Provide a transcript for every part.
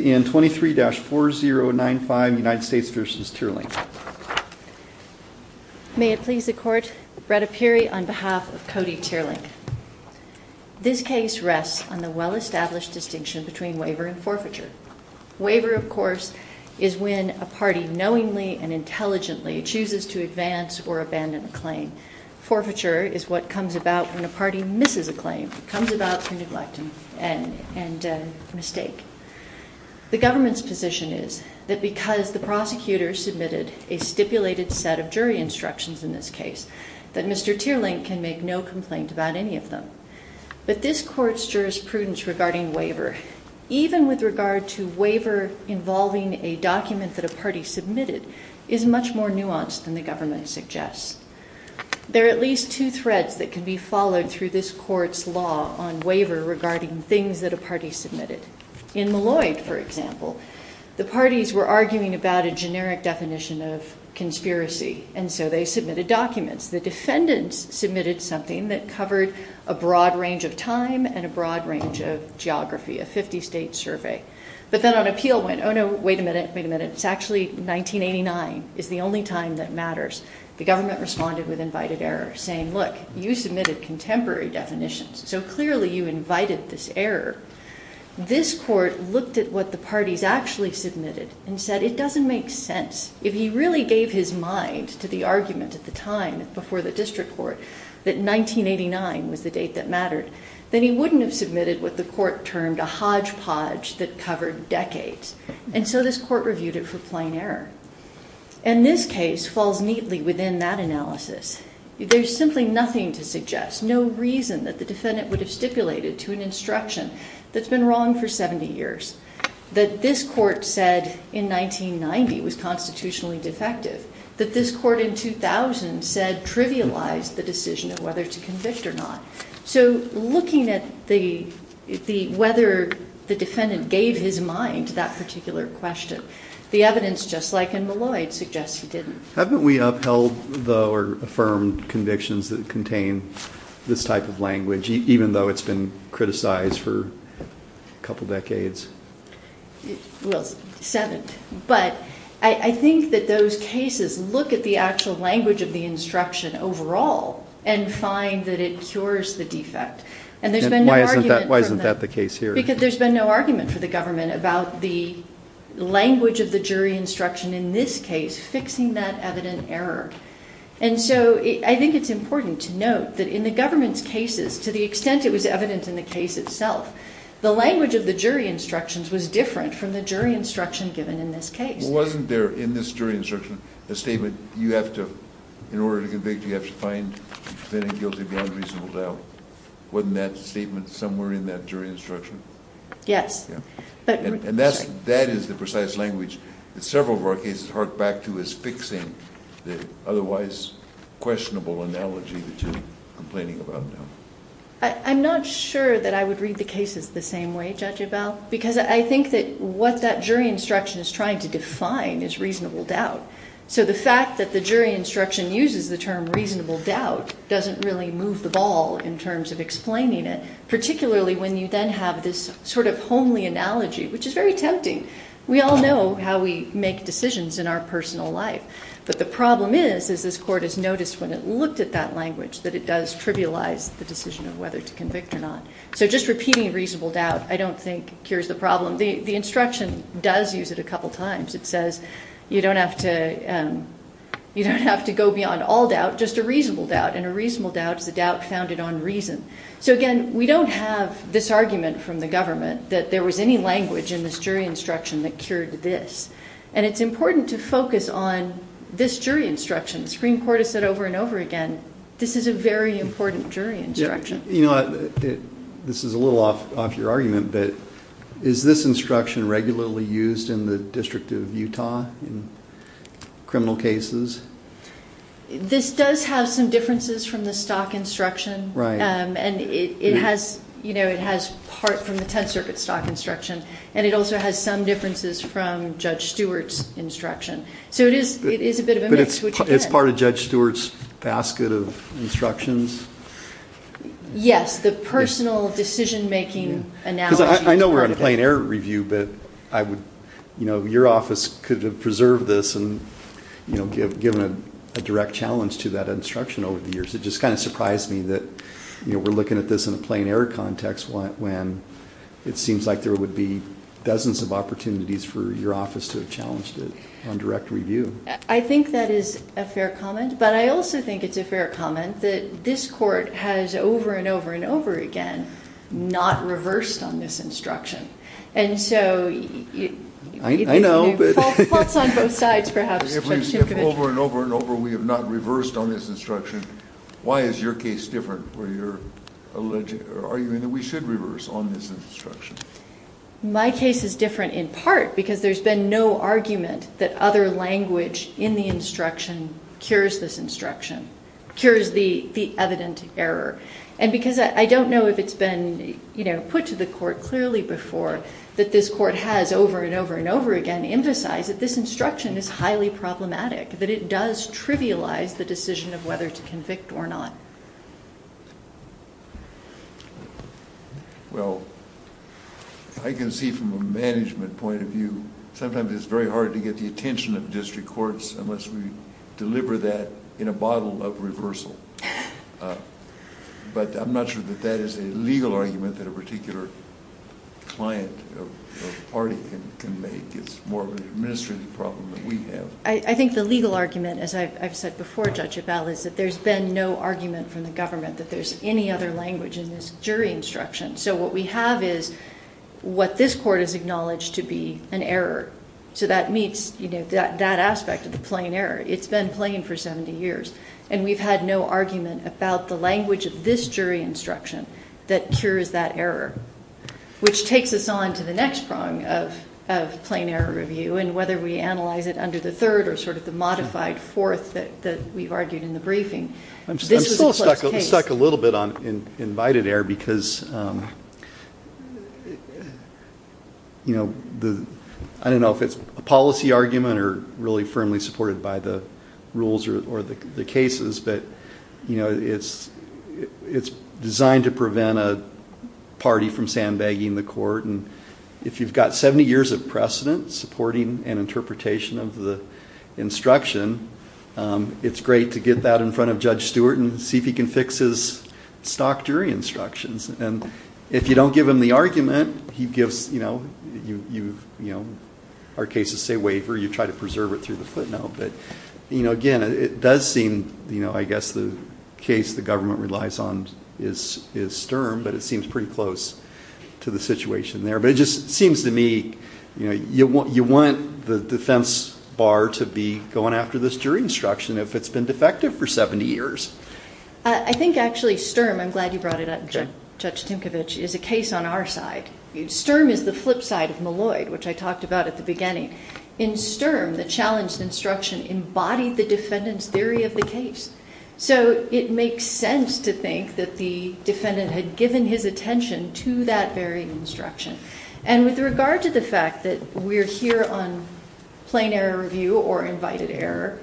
This case rests on the well-established distinction between waiver and forfeiture. Waiver of course is when a party knowingly and intelligently chooses to advance or abandon a claim. Forfeiture is what comes about when a party misses a claim, comes about through neglect and mistake. The government's position is that because the prosecutor submitted a stipulated set of jury instructions in this case, that Mr. Teerlink can make no complaint about any of them. But this court's jurisprudence regarding waiver, even with regard to waiver involving a document that a party submitted, is much more nuanced than the government suggests. There are at least two threads that can be followed through this court's law on waiver regarding things that a party submitted. In Malloy, for example, the parties were arguing about a generic definition of conspiracy, and so they submitted documents. The defendants submitted something that covered a broad range of time and a broad range of geography, a 50-state survey. But then an appeal went, oh no, wait a minute, wait a minute, it's actually 1989 is the only time that matters. The government responded with invited error, saying look, you submitted contemporary definitions, so clearly you invited this error. This court looked at what the parties actually submitted and said it doesn't make sense. If he really gave his mind to the argument at the time before the district court that 1989 was the date that mattered, then he wouldn't have submitted what the court termed a hodgepodge that covered decades. And so this court reviewed it for plain error. And this case falls neatly within that analysis. There's simply nothing to suggest, no reason that the defendant would have stipulated to an instruction that's been wrong for 70 years, that this court said in 1990 was constitutionally defective, that this court in 2000 said trivialized the decision of whether to convict or not. So looking at whether the defendant gave his mind to that particular question, the evidence, just like in Malloy, suggests he didn't. Haven't we upheld or affirmed convictions that contain this type of language, even though it's been criticized for a couple decades? Well, seven. But I think that those cases look at the actual language of the instruction overall and find that it cures the defect. And there's been no argument for that. Why isn't that the case here? Because there's been no argument for the government about the language of the jury instruction in this case fixing that evident error. And so I think it's important to note that in the government's cases, to the extent it was evident in the case itself, the language of the jury instructions was different from the jury instruction given in this case. Wasn't there in this jury instruction a statement, you have to, in order to convict, you have to find the defendant guilty beyond reasonable doubt? Wasn't that statement somewhere in that jury instruction? Yes. And that is the precise language that several of our cases hark back to as fixing the otherwise questionable analogy that you're complaining about now. I'm not sure that I would read the cases the same way, Judge Abell, because I think that what that jury instruction is trying to define is reasonable doubt. So the fact that the jury instruction uses the term reasonable doubt doesn't really move the ball in terms of explaining it, particularly when you then have this sort of homely analogy, which is very tempting. We all know how we make decisions in our personal life. But the problem is, as this Court has noticed when it looked at that language, that it does trivialize the decision of whether to convict or not. So just repeating reasonable doubt I don't think cures the problem. The instruction does use it a couple times. It says you don't have to go beyond all doubt, just a reasonable doubt. And a reasonable doubt is a doubt founded on reason. So again, we don't have this argument from the government that there was any language in this jury instruction that cured this. And it's important to focus on this jury instruction. The Supreme Court has said over and over again, this is a very important jury instruction. You know, this is a little off your argument, but is this instruction regularly used in the District of Utah in criminal cases? This does have some differences from the stock instruction. And it has, you know, it has part from the Tenth Circuit stock instruction. And it also has some differences from Judge Stewart's instruction. So it is a bit of a mix. It's part of Judge Stewart's basket of instructions? Yes, the personal decision-making analogy is part of it. Because I know we're on a plain error review, but I would, you know, your office could have preserved this and, you know, given a direct challenge to that instruction over the years. It just kind of surprised me that, you know, we're looking at this in a plain error context when it seems like there would be dozens of opportunities for your office to have challenged it on direct review. I think that is a fair comment. But I also think it's a fair comment that this Court has over and over and over again not reversed on this instruction. And so... I know. Faults on both sides, perhaps. If over and over and over we have not reversed on this instruction, why is your case different where you're arguing that we should reverse on this instruction? My case is different in part because there's been no argument that other language in the instruction cures this instruction, cures the evident error. And because I don't know if it's been, you know, put to the Court clearly before that this Court has over and over and over again emphasized that this instruction is highly problematic, that it does trivialize the decision of whether to convict or not. Well, I can see from a management point of view, sometimes it's very hard to get the attention of district courts unless we deliver that in a bottle of reversal. But I'm not sure that that is a legal argument that a particular client or party can make. It's more of an administrative problem than we have. I think the legal argument, as I've said before, Judge Ebell, is that there's been no argument from the government that there's any other language in this jury instruction. So what we have is what this Court has acknowledged to be an error. So that meets, you know, that aspect of the plain error. It's been plain for 70 years. And we've had no argument about the language of this jury instruction that cures that error, which takes us on to the modified fourth that we've argued in the briefing. I'm still stuck a little bit on invited error because, you know, I don't know if it's a policy argument or really firmly supported by the rules or the cases, but it's designed to prevent a party from sandbagging the Court. And if you've got 70 years of precedent supporting an interpretation of the instruction, it's great to get that in front of Judge Stewart and see if he can fix his stock jury instructions. And if you don't give him the argument, he gives, you know, you've, you know, our cases say waiver. You try to preserve it through the footnote. But, you know, again, it does seem, you know, I guess the case the government relies on is stern, but it seems pretty close to the situation there. But it just seems to me, you know, you want the defense bar to be going after this jury instruction if it's been defective for 70 years. I think actually stern, I'm glad you brought it up, Judge Tinkovich, is a case on our side. Stern is the flip side of Malloy, which I talked about at the beginning. In stern, the challenged instruction embodied the defendant's theory of the case. So it makes sense to think that the defendant had given his attention to that very instruction. And with regard to the fact that we're here on plain error review or invited error,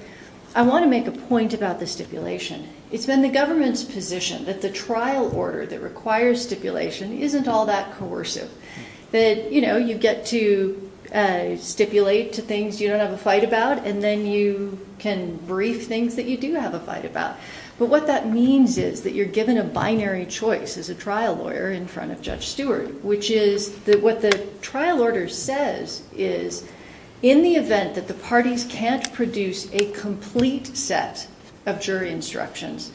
I want to make a point about the stipulation. It's been the government's position that the trial order that requires stipulation isn't all that coercive. That, you know, you get to stipulate to things you don't have a fight about, and then you can brief things that you do have a fight about. But what that means is that you're given a binary choice as a trial lawyer in front of Judge Stewart, which is that what the trial order says is, in the event that the parties can't produce a complete set of jury instructions,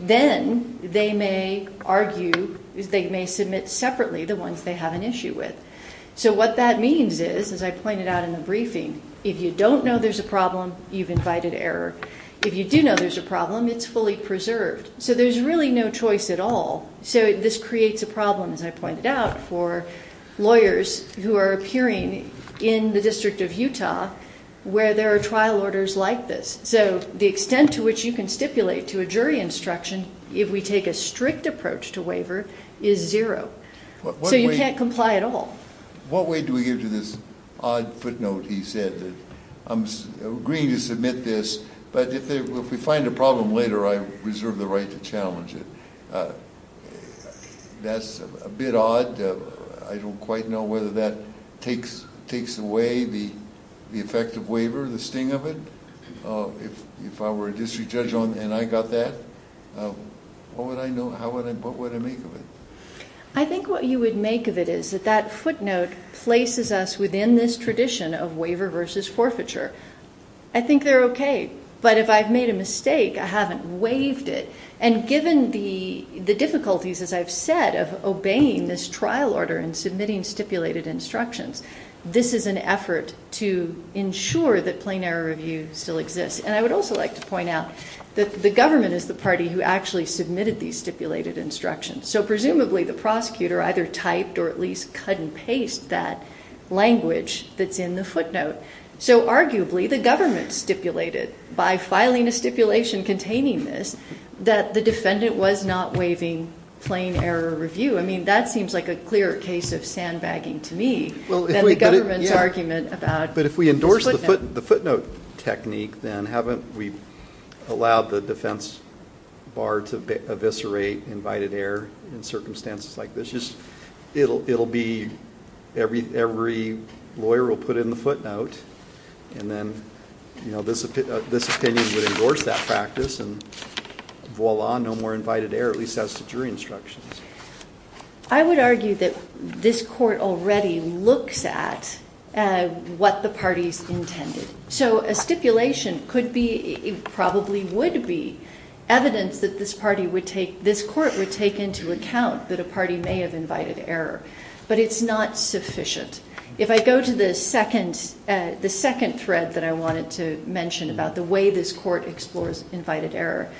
then they may argue, they may submit separately the ones they have an issue with. So what that means is, as I pointed out in the briefing, if you don't know there's a problem, you've invited error. If you do know there's a problem, it's fully preserved. So there's really no choice at all. So this creates a problem, as I pointed out, for lawyers who are appearing in the District of Utah where there are trial orders like this. So the extent to which you can stipulate to a jury instruction if we take a strict approach to waiver is zero. So you can't comply at all. What weight do we give to this odd footnote he said that I'm agreeing to submit this, but if we find a problem later, I reserve the right to challenge it. That's a bit odd. I don't quite know whether that takes away the effect of waiver, the sting of it. If I were a district judge and I got that, what would I make of it? I think what you would make of it is that that footnote places us within this tradition of waiver versus forfeiture. I think they're okay, but if I've made a mistake, I haven't waived it. And given the difficulties, as I've said, of obeying this trial order and submitting stipulated instructions, this is an effort to ensure that plain error review still exists. And I would also like to point out that the government is the party who actually submitted these stipulated instructions. So presumably the prosecutor either typed or at least cut and paste that language that's in the footnote. So arguably the government stipulated by filing a stipulation containing this, that the defendant was not waiving plain error review. I mean, that seems like a clearer case of sandbagging to me than the government's argument about this footnote. But if we endorse the footnote technique, then haven't we allowed the defense bar to eviscerate invited error in circumstances like this? It'll be every lawyer will put in the footnote and then this opinion would endorse that practice and voila, no more invited error, at least as to jury instructions. I would argue that this court already looks at what the party's intended. So a stipulation could be, probably would be evidence that this party would take, this court would take into account that a party may have invited error, but it's not sufficient. If I go to the second thread that I wanted to mention about the way this court explores invited error,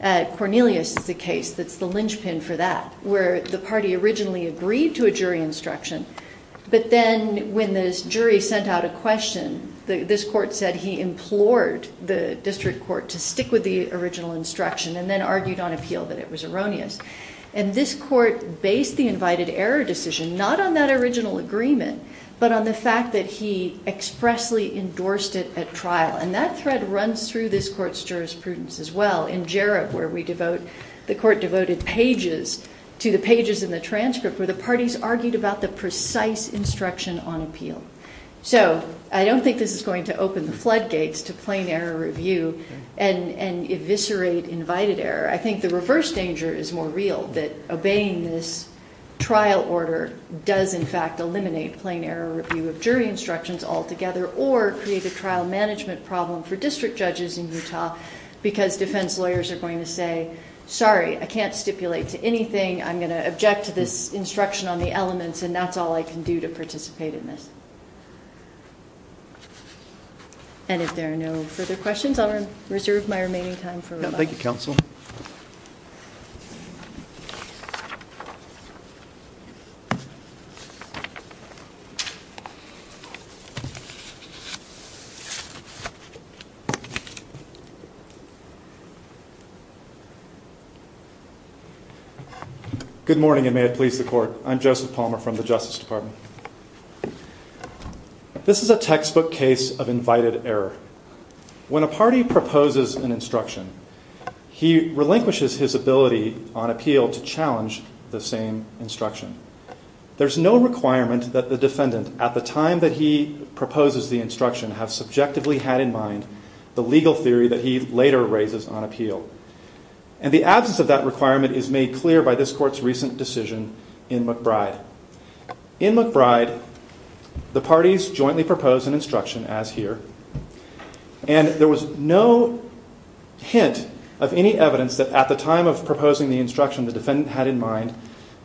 at Cornelius is the case that's the linchpin for that, where the party originally agreed to a jury instruction, but then when this jury sent out a question, this court said he implored the district court to stick with the original instruction and then argued on appeal that it was erroneous. And this court based the invited error decision, not on that original agreement, but on the fact that he expressly endorsed it at trial. And that thread runs through this court's jurisprudence as well in Jarrah, where we devote, the court devoted pages to the pages in the transcript where the parties argued about the precise instruction on appeal. So I don't think this is going to open the floodgates to plain error review and eviscerate invited error. I think the reverse danger is more real that obeying this trial order does in fact eliminate plain error review of jury instructions altogether or create a trial management problem for district judges in Utah because defense lawyers are going to say, sorry, I can't stipulate to anything. I'm going to object to this instruction on the elements and that's all I can do to participate in this. And if there are no further questions, I'll reserve my remaining time for rebuttal. Thank you, counsel. Good morning and may it please the court. I'm Joseph Palmer from the Justice Department. This is a textbook case of invited error. When a party proposes an instruction, he relinquishes his ability on appeal to challenge the same instruction. There's no requirement that the defendant at the time that he proposes the instruction have subjectively had in mind the legal theory that he later raises on appeal. And the absence of that requirement is made clear by this court's recent decision in McBride. In McBride, the parties jointly propose an instruction as here. And there was no hint of any evidence that at the time of proposing the instruction, the defendant had in mind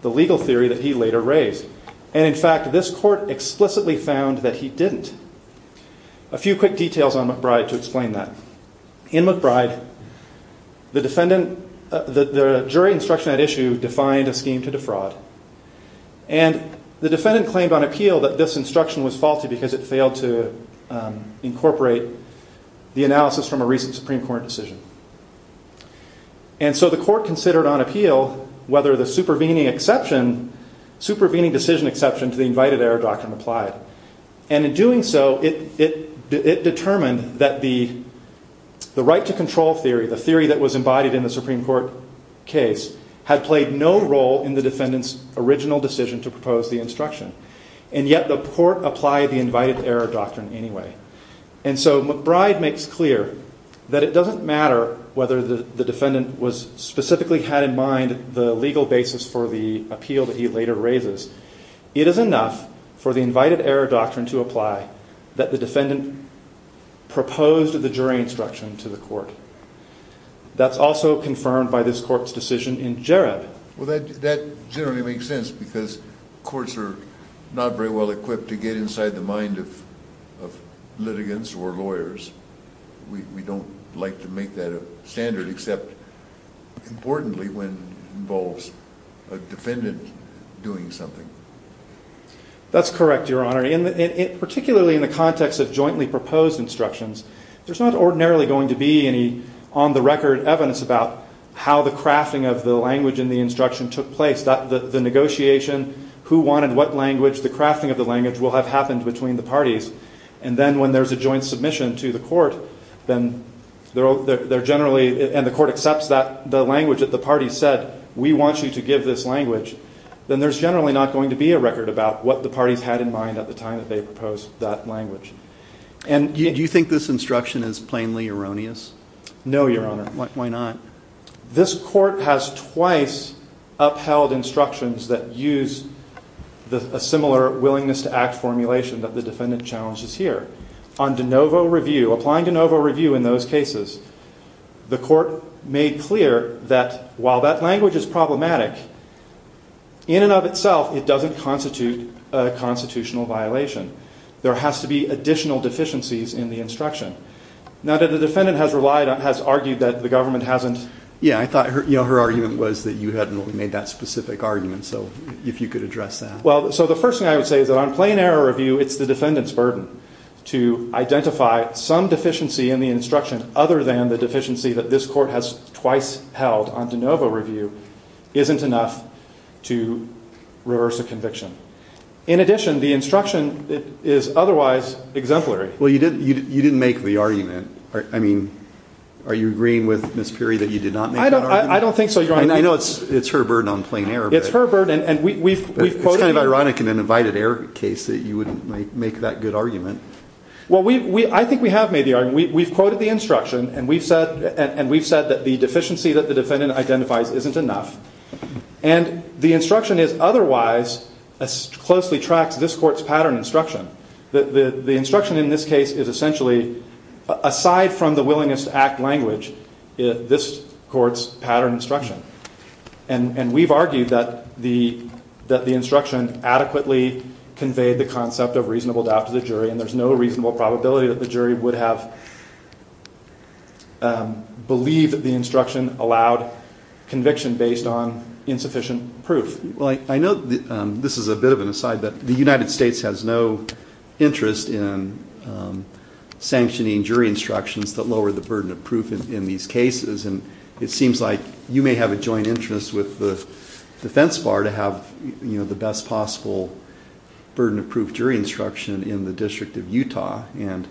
the legal theory that he later raised. And in fact, this court explicitly found that he didn't. A few quick details on McBride to explain that. In McBride, the jury instruction at issue defined a scheme to defraud. And the defendant claimed on appeal that this instruction was faulty because it failed to incorporate the analysis from a recent Supreme Court decision. And so the court considered on appeal whether the supervening decision exception to the invited error doctrine applied. And in doing so, it determined that the right to control theory, the theory that was embodied in the Supreme Court case, had played no role in the defendant's original decision to propose the instruction. And yet the court applied the invited error doctrine anyway. And so McBride makes clear that it doesn't matter whether the defendant specifically had in mind the legal basis for the appeal that he later raises. It is enough for the invited error doctrine to apply that the defendant proposed the jury instruction to the court. That's also confirmed by this court's decision in Jareb. Well, that generally makes sense because courts are not very well equipped to get inside the mind of litigants or lawyers. We don't like to make that a standard except importantly when it involves a defendant doing something. That's correct, Your Honor. Particularly in the context of jointly proposed instructions, there's not ordinarily going to be any on-the-record evidence about how the crafting of the language in the instruction took place. The negotiation, who wanted what language, the crafting of the language will have happened between the parties. And then when there's a joint submission to the court, and the court accepts the language that the parties said, we want you to give this language, then there's generally not going to be a record about what the parties had in mind at the time that they proposed that language. Do you think this instruction is plainly erroneous? No, Your Honor. Why not? This court has twice upheld instructions that use a similar willingness to act formulation that the defendant challenges here. On De Novo review, applying De Novo review in those cases, the court made clear that while that language is problematic, in and of itself it doesn't constitute a constitutional violation. There has to be additional deficiencies in the instruction. Now that the defendant has relied on, has argued that the government hasn't... Yeah, I thought her argument was that you hadn't really made that specific argument, so if you could address that. So the first thing I would say is that on plain error review, it's the defendant's burden to identify some deficiency in the instruction other than the deficiency that this court has twice held on De Novo review isn't enough to reverse a conviction. In addition, the instruction is otherwise exemplary. Well, you didn't make the argument. I mean, are you agreeing with Ms. Piri that you did not make that argument? I don't think so, Your Honor. And I know it's her burden on plain error, but... It's kind of ironic in an invited error case that you wouldn't make that good argument. Well, I think we have made the argument. We've quoted the instruction and we've said that the deficiency that the defendant identifies isn't enough. And the instruction is otherwise as closely tracks this court's pattern instruction. The instruction in this case is essentially aside from the willingness to act language, this court's pattern instruction. And we've argued that the instruction adequately conveyed the concept of reasonable doubt to the jury and there's no reasonable probability that the jury would have believed that the instruction allowed conviction based on insufficient proof. Well, I know this is a bit of an aside, but the United States has no interest in sanctioning jury instructions that lower the burden of proof in these cases. And it seems like you may have a joint interest with the defense bar to have the best possible burden of proof jury instruction in the District of Utah. And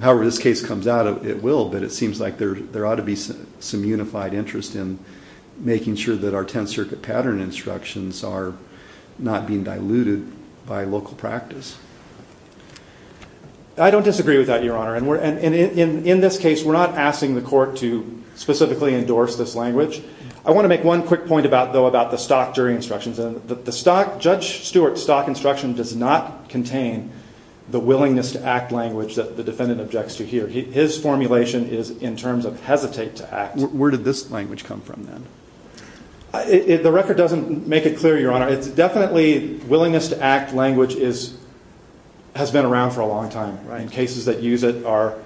however this case comes out, it will, but it seems like there ought to be some unified interest in making sure that our Tenth Circuit pattern instructions are not being diluted by local practice. I don't disagree with that, Your Honor. And in this case, we're not asking the court to specifically endorse this language. I want to make one quick point, though, about the stock jury instructions. Judge Stewart's stock instruction does not contain the willingness to act language that the defendant objects to hear. His formulation is in terms of hesitate to act. Where did this language come from, then? The record doesn't make it clear, Your Honor. It's definitely willingness to act language has been around for a long time. Cases that use it are...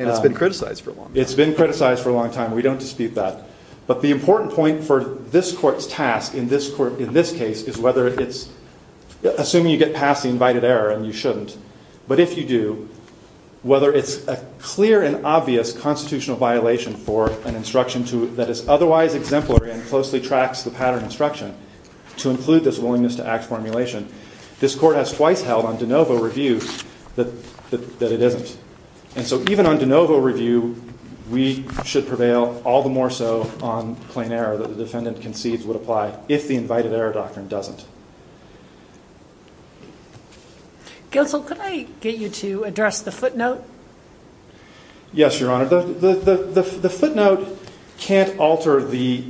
And it's been criticized for a long time. It's been criticized for a long time. We don't dispute that. But the important point for this court's task in this case is whether it's... Assuming you get past the invited error, and you shouldn't, but if you do, whether it's a clear and obvious constitutional violation for an instruction that is otherwise exemplary and closely tracks the pattern instruction to include this willingness to act formulation, this court has twice held on de novo review that it isn't. And so even on de novo review, we should prevail all the more so on plain error that the defendant concedes would apply if the invited error doctrine doesn't. Guildsall, could I get you to address the footnote? Yes, Your Honor. The footnote can't alter the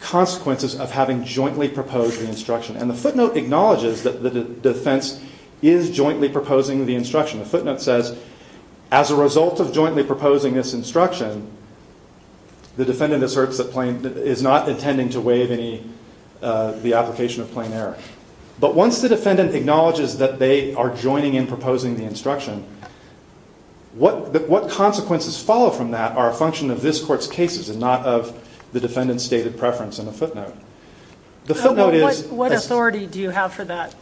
consequences of having jointly proposed the instruction. And the footnote acknowledges that the defense is jointly proposing the instruction. The footnote says, as a result of jointly proposing this instruction, the defendant asserts that... Is not intending to waive any... The application of plain error. But once the defendant acknowledges that they are joining in proposing the instruction, what consequences follow from that are a function of this court's cases and not of the defendant's stated preference in the footnote. The footnote is... What authority do you have for that?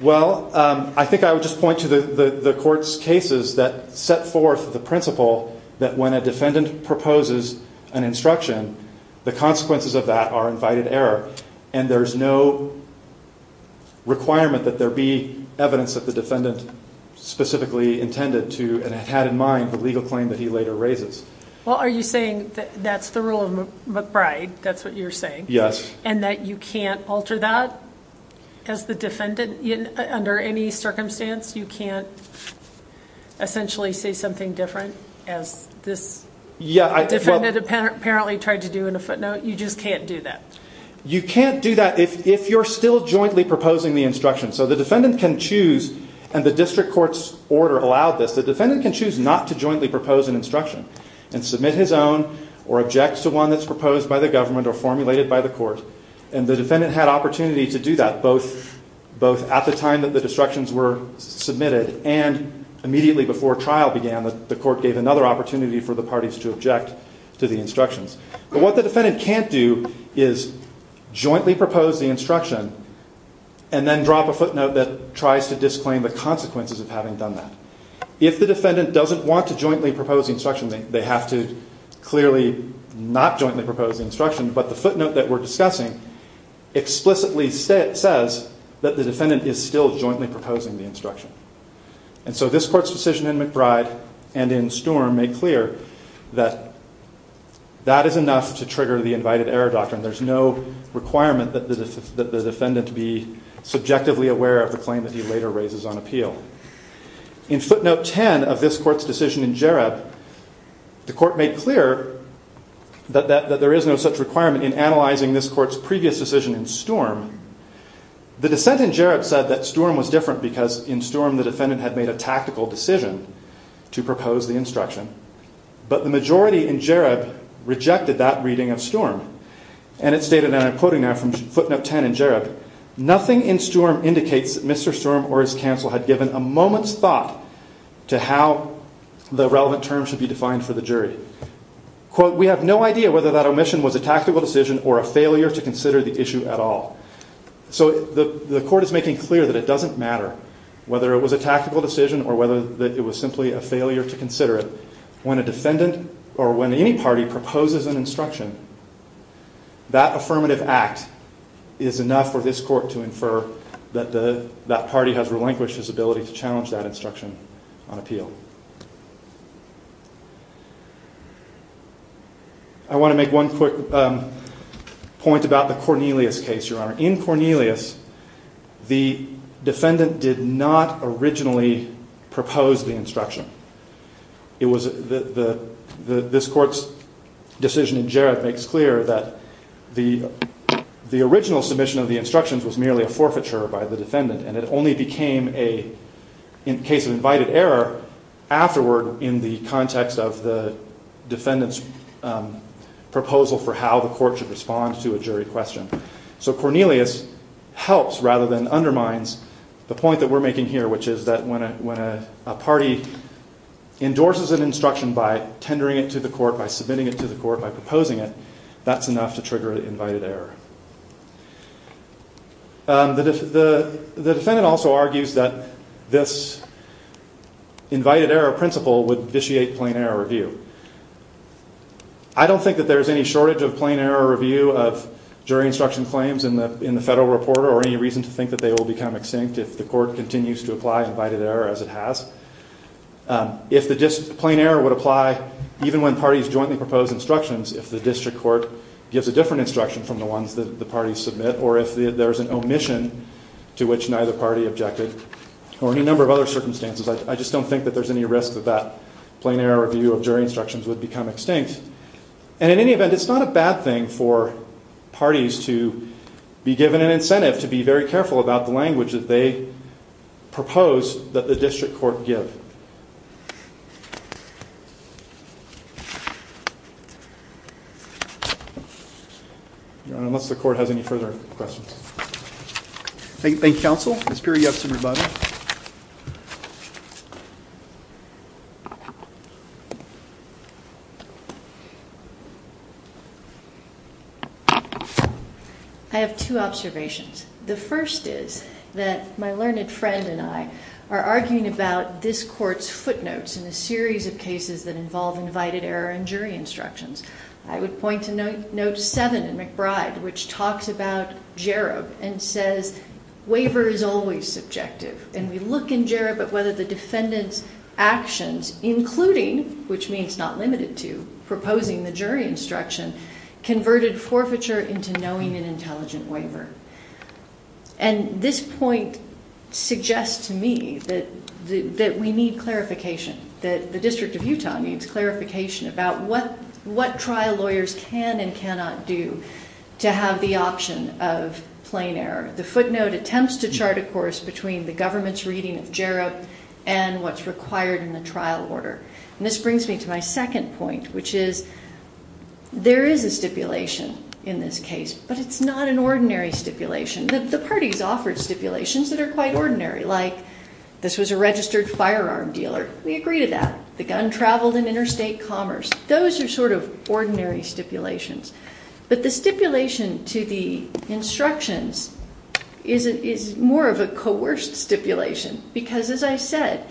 Well, I think I would just point to the court's cases that set forth the principle that when a defendant proposes an instruction, the consequences of that are invited error. And there's no requirement that there be evidence that the defendant specifically intended to and had in mind the legal claim that he later raises. Well, are you saying that that's the rule of McBride? That's what you're saying? Yes. And that you can't alter that as the defendant? Under any circumstance, you can't essentially say something different as this defendant apparently tried to do in a footnote? You just can't do that? You can't do that if you're still jointly proposing the instruction. So the defendant can choose, and the district court's order allowed this, the defendant can choose not to jointly propose an instruction and submit his own or object to one that's proposed by the government or formulated by the court. And the defendant had opportunity to do that both at the time that the instructions were submitted and immediately before trial began that the court gave another opportunity for the parties to object to the instructions. But what the defendant can't do is jointly propose the instruction and then drop a footnote that tries to disclaim the consequences of having done that. If the defendant doesn't want to jointly propose the instruction, they have to clearly not jointly propose the instruction, but the footnote that we're discussing explicitly says that the defendant is still jointly proposing the instruction. And so this court's decision in McBride and in Sturm make clear that that is enough to trigger the invited error doctrine. There's no requirement that the defendant be subjectively aware of the claim that he later raises on appeal. In footnote 10 of this court's decision in Jareb, the court made clear that there is no such requirement in analyzing this court's previous decision in Sturm. The dissent in Jareb said that Sturm was different because in Sturm the defendant had made a tactical decision to propose the instruction, but the majority in Jareb rejected that reading of Sturm. And it stated, and I'm quoting now from footnote 10 in Jareb, nothing in Sturm indicates that Mr. Sturm or his counsel had given a moment's thought to how the relevant term should be defined for the jury. Quote, we have no idea whether that omission was a tactical decision or a failure to consider the issue at all. So the court is making clear that it doesn't matter whether it was a tactical decision or whether it was simply a failure to consider it. When a defendant or when any party proposes an instruction, that affirmative act is enough for this court to infer that that party has relinquished its ability to challenge that instruction on appeal. I want to make one quick point about the Cornelius case, Your Honor. In Cornelius, the defendant did not originally propose the instruction. It was the, this court's decision in Jareb makes clear that the original submission of the instructions was merely a forfeiture by the defendant, and it only became a case of invited error afterward in the context of the defendant's proposal for how the court should respond to a jury question. So Cornelius helps rather than undermines the point that we're making here, which is that when a party endorses an instruction by tendering it to the court, by submitting it to the court, by proposing it, that's enough to trigger an invited error. The defendant also argues that this invited error principle would vitiate plain error review. I don't think that there's any shortage of plain error review of jury instruction claims in the federal reporter or any reason to think that they will become extinct if the court continues to apply invited error as it has. If the plain error would apply even when parties jointly propose instructions, if the district court gives a different instruction from the ones that the parties submit, or if there's an omission to which neither party objected, or any number of other circumstances, I just don't think that there's any risk that that plain error review of jury instructions would become extinct. And in any event, it's not a bad thing for parties to be given an incentive to be very careful about the language that they propose that the district court give. Unless the court has any further questions. Thank you, counsel. Ms. Peery, you have some rebuttals? I have two observations. The first is that my learned friend and I are arguing about this court's footnotes in a series of cases that involve invited error in jury instructions. I would point to note seven in McBride, which talks about Jarob and says, waiver is always subjective. And we look in Jarob at whether the defendant's actions, including, which means not limited to, proposing the jury instruction, converted forfeiture into knowing an intelligent waiver. And this point suggests to me that we need clarification, that the District of Utah needs clarification about what trial lawyers can and cannot do to have the option of plain error. The footnote attempts to chart a course between the government's reading of Jarob and what's required in the trial order. And this brings me to my second point, which is, there is a stipulation in this case, but it's not an ordinary stipulation. The parties offered stipulations that are quite ordinary, like this was a registered firearm dealer. We agree to that. The gun traveled in interstate commerce. Those are sort of ordinary stipulations. But the stipulation to the instructions is more of a coerced stipulation. Because as I said,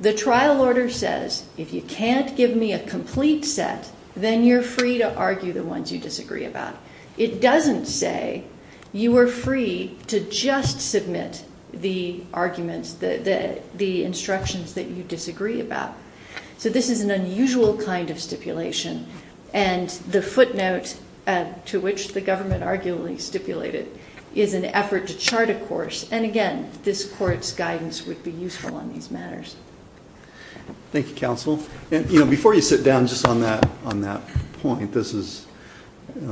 the trial order says, if you can't give me a complete set, then you're free to argue the ones you disagree about. It doesn't say you are free to just submit the arguments, the instructions that you disagree about. So this is an unusual kind of stipulation. And the footnote, to which the government arguably stipulated, is an effort to chart a course. And again, this court's guidance would be useful on these matters. Thank you, Counsel. And before you sit down just on that point, this is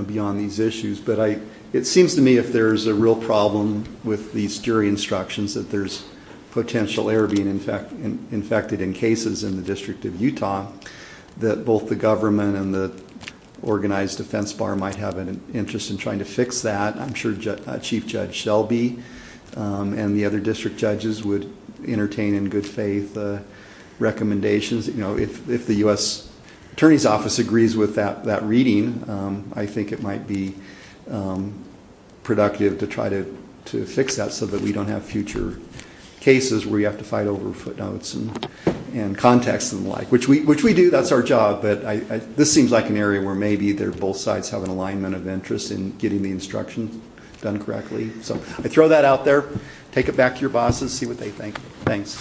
beyond these issues, but it seems to me if there's a real problem with these jury instructions, that there's potential error being infected in cases in the District of Utah, that both the government and the organized defense bar might have an interest in trying to fix that. I'm sure Chief Judge Shelby and the other district judges would entertain in good faith recommendations. If the U.S. Attorney's Office agrees with that reading, I think it might be productive to try to fix that so that we don't have future cases where you have to fight over footnotes and context and the like, which we do. That's our job. But this seems like an area where maybe both sides have an alignment of interest in getting the instructions done correctly. So I throw that out there. Take it back to your bosses, see what they think. Thanks.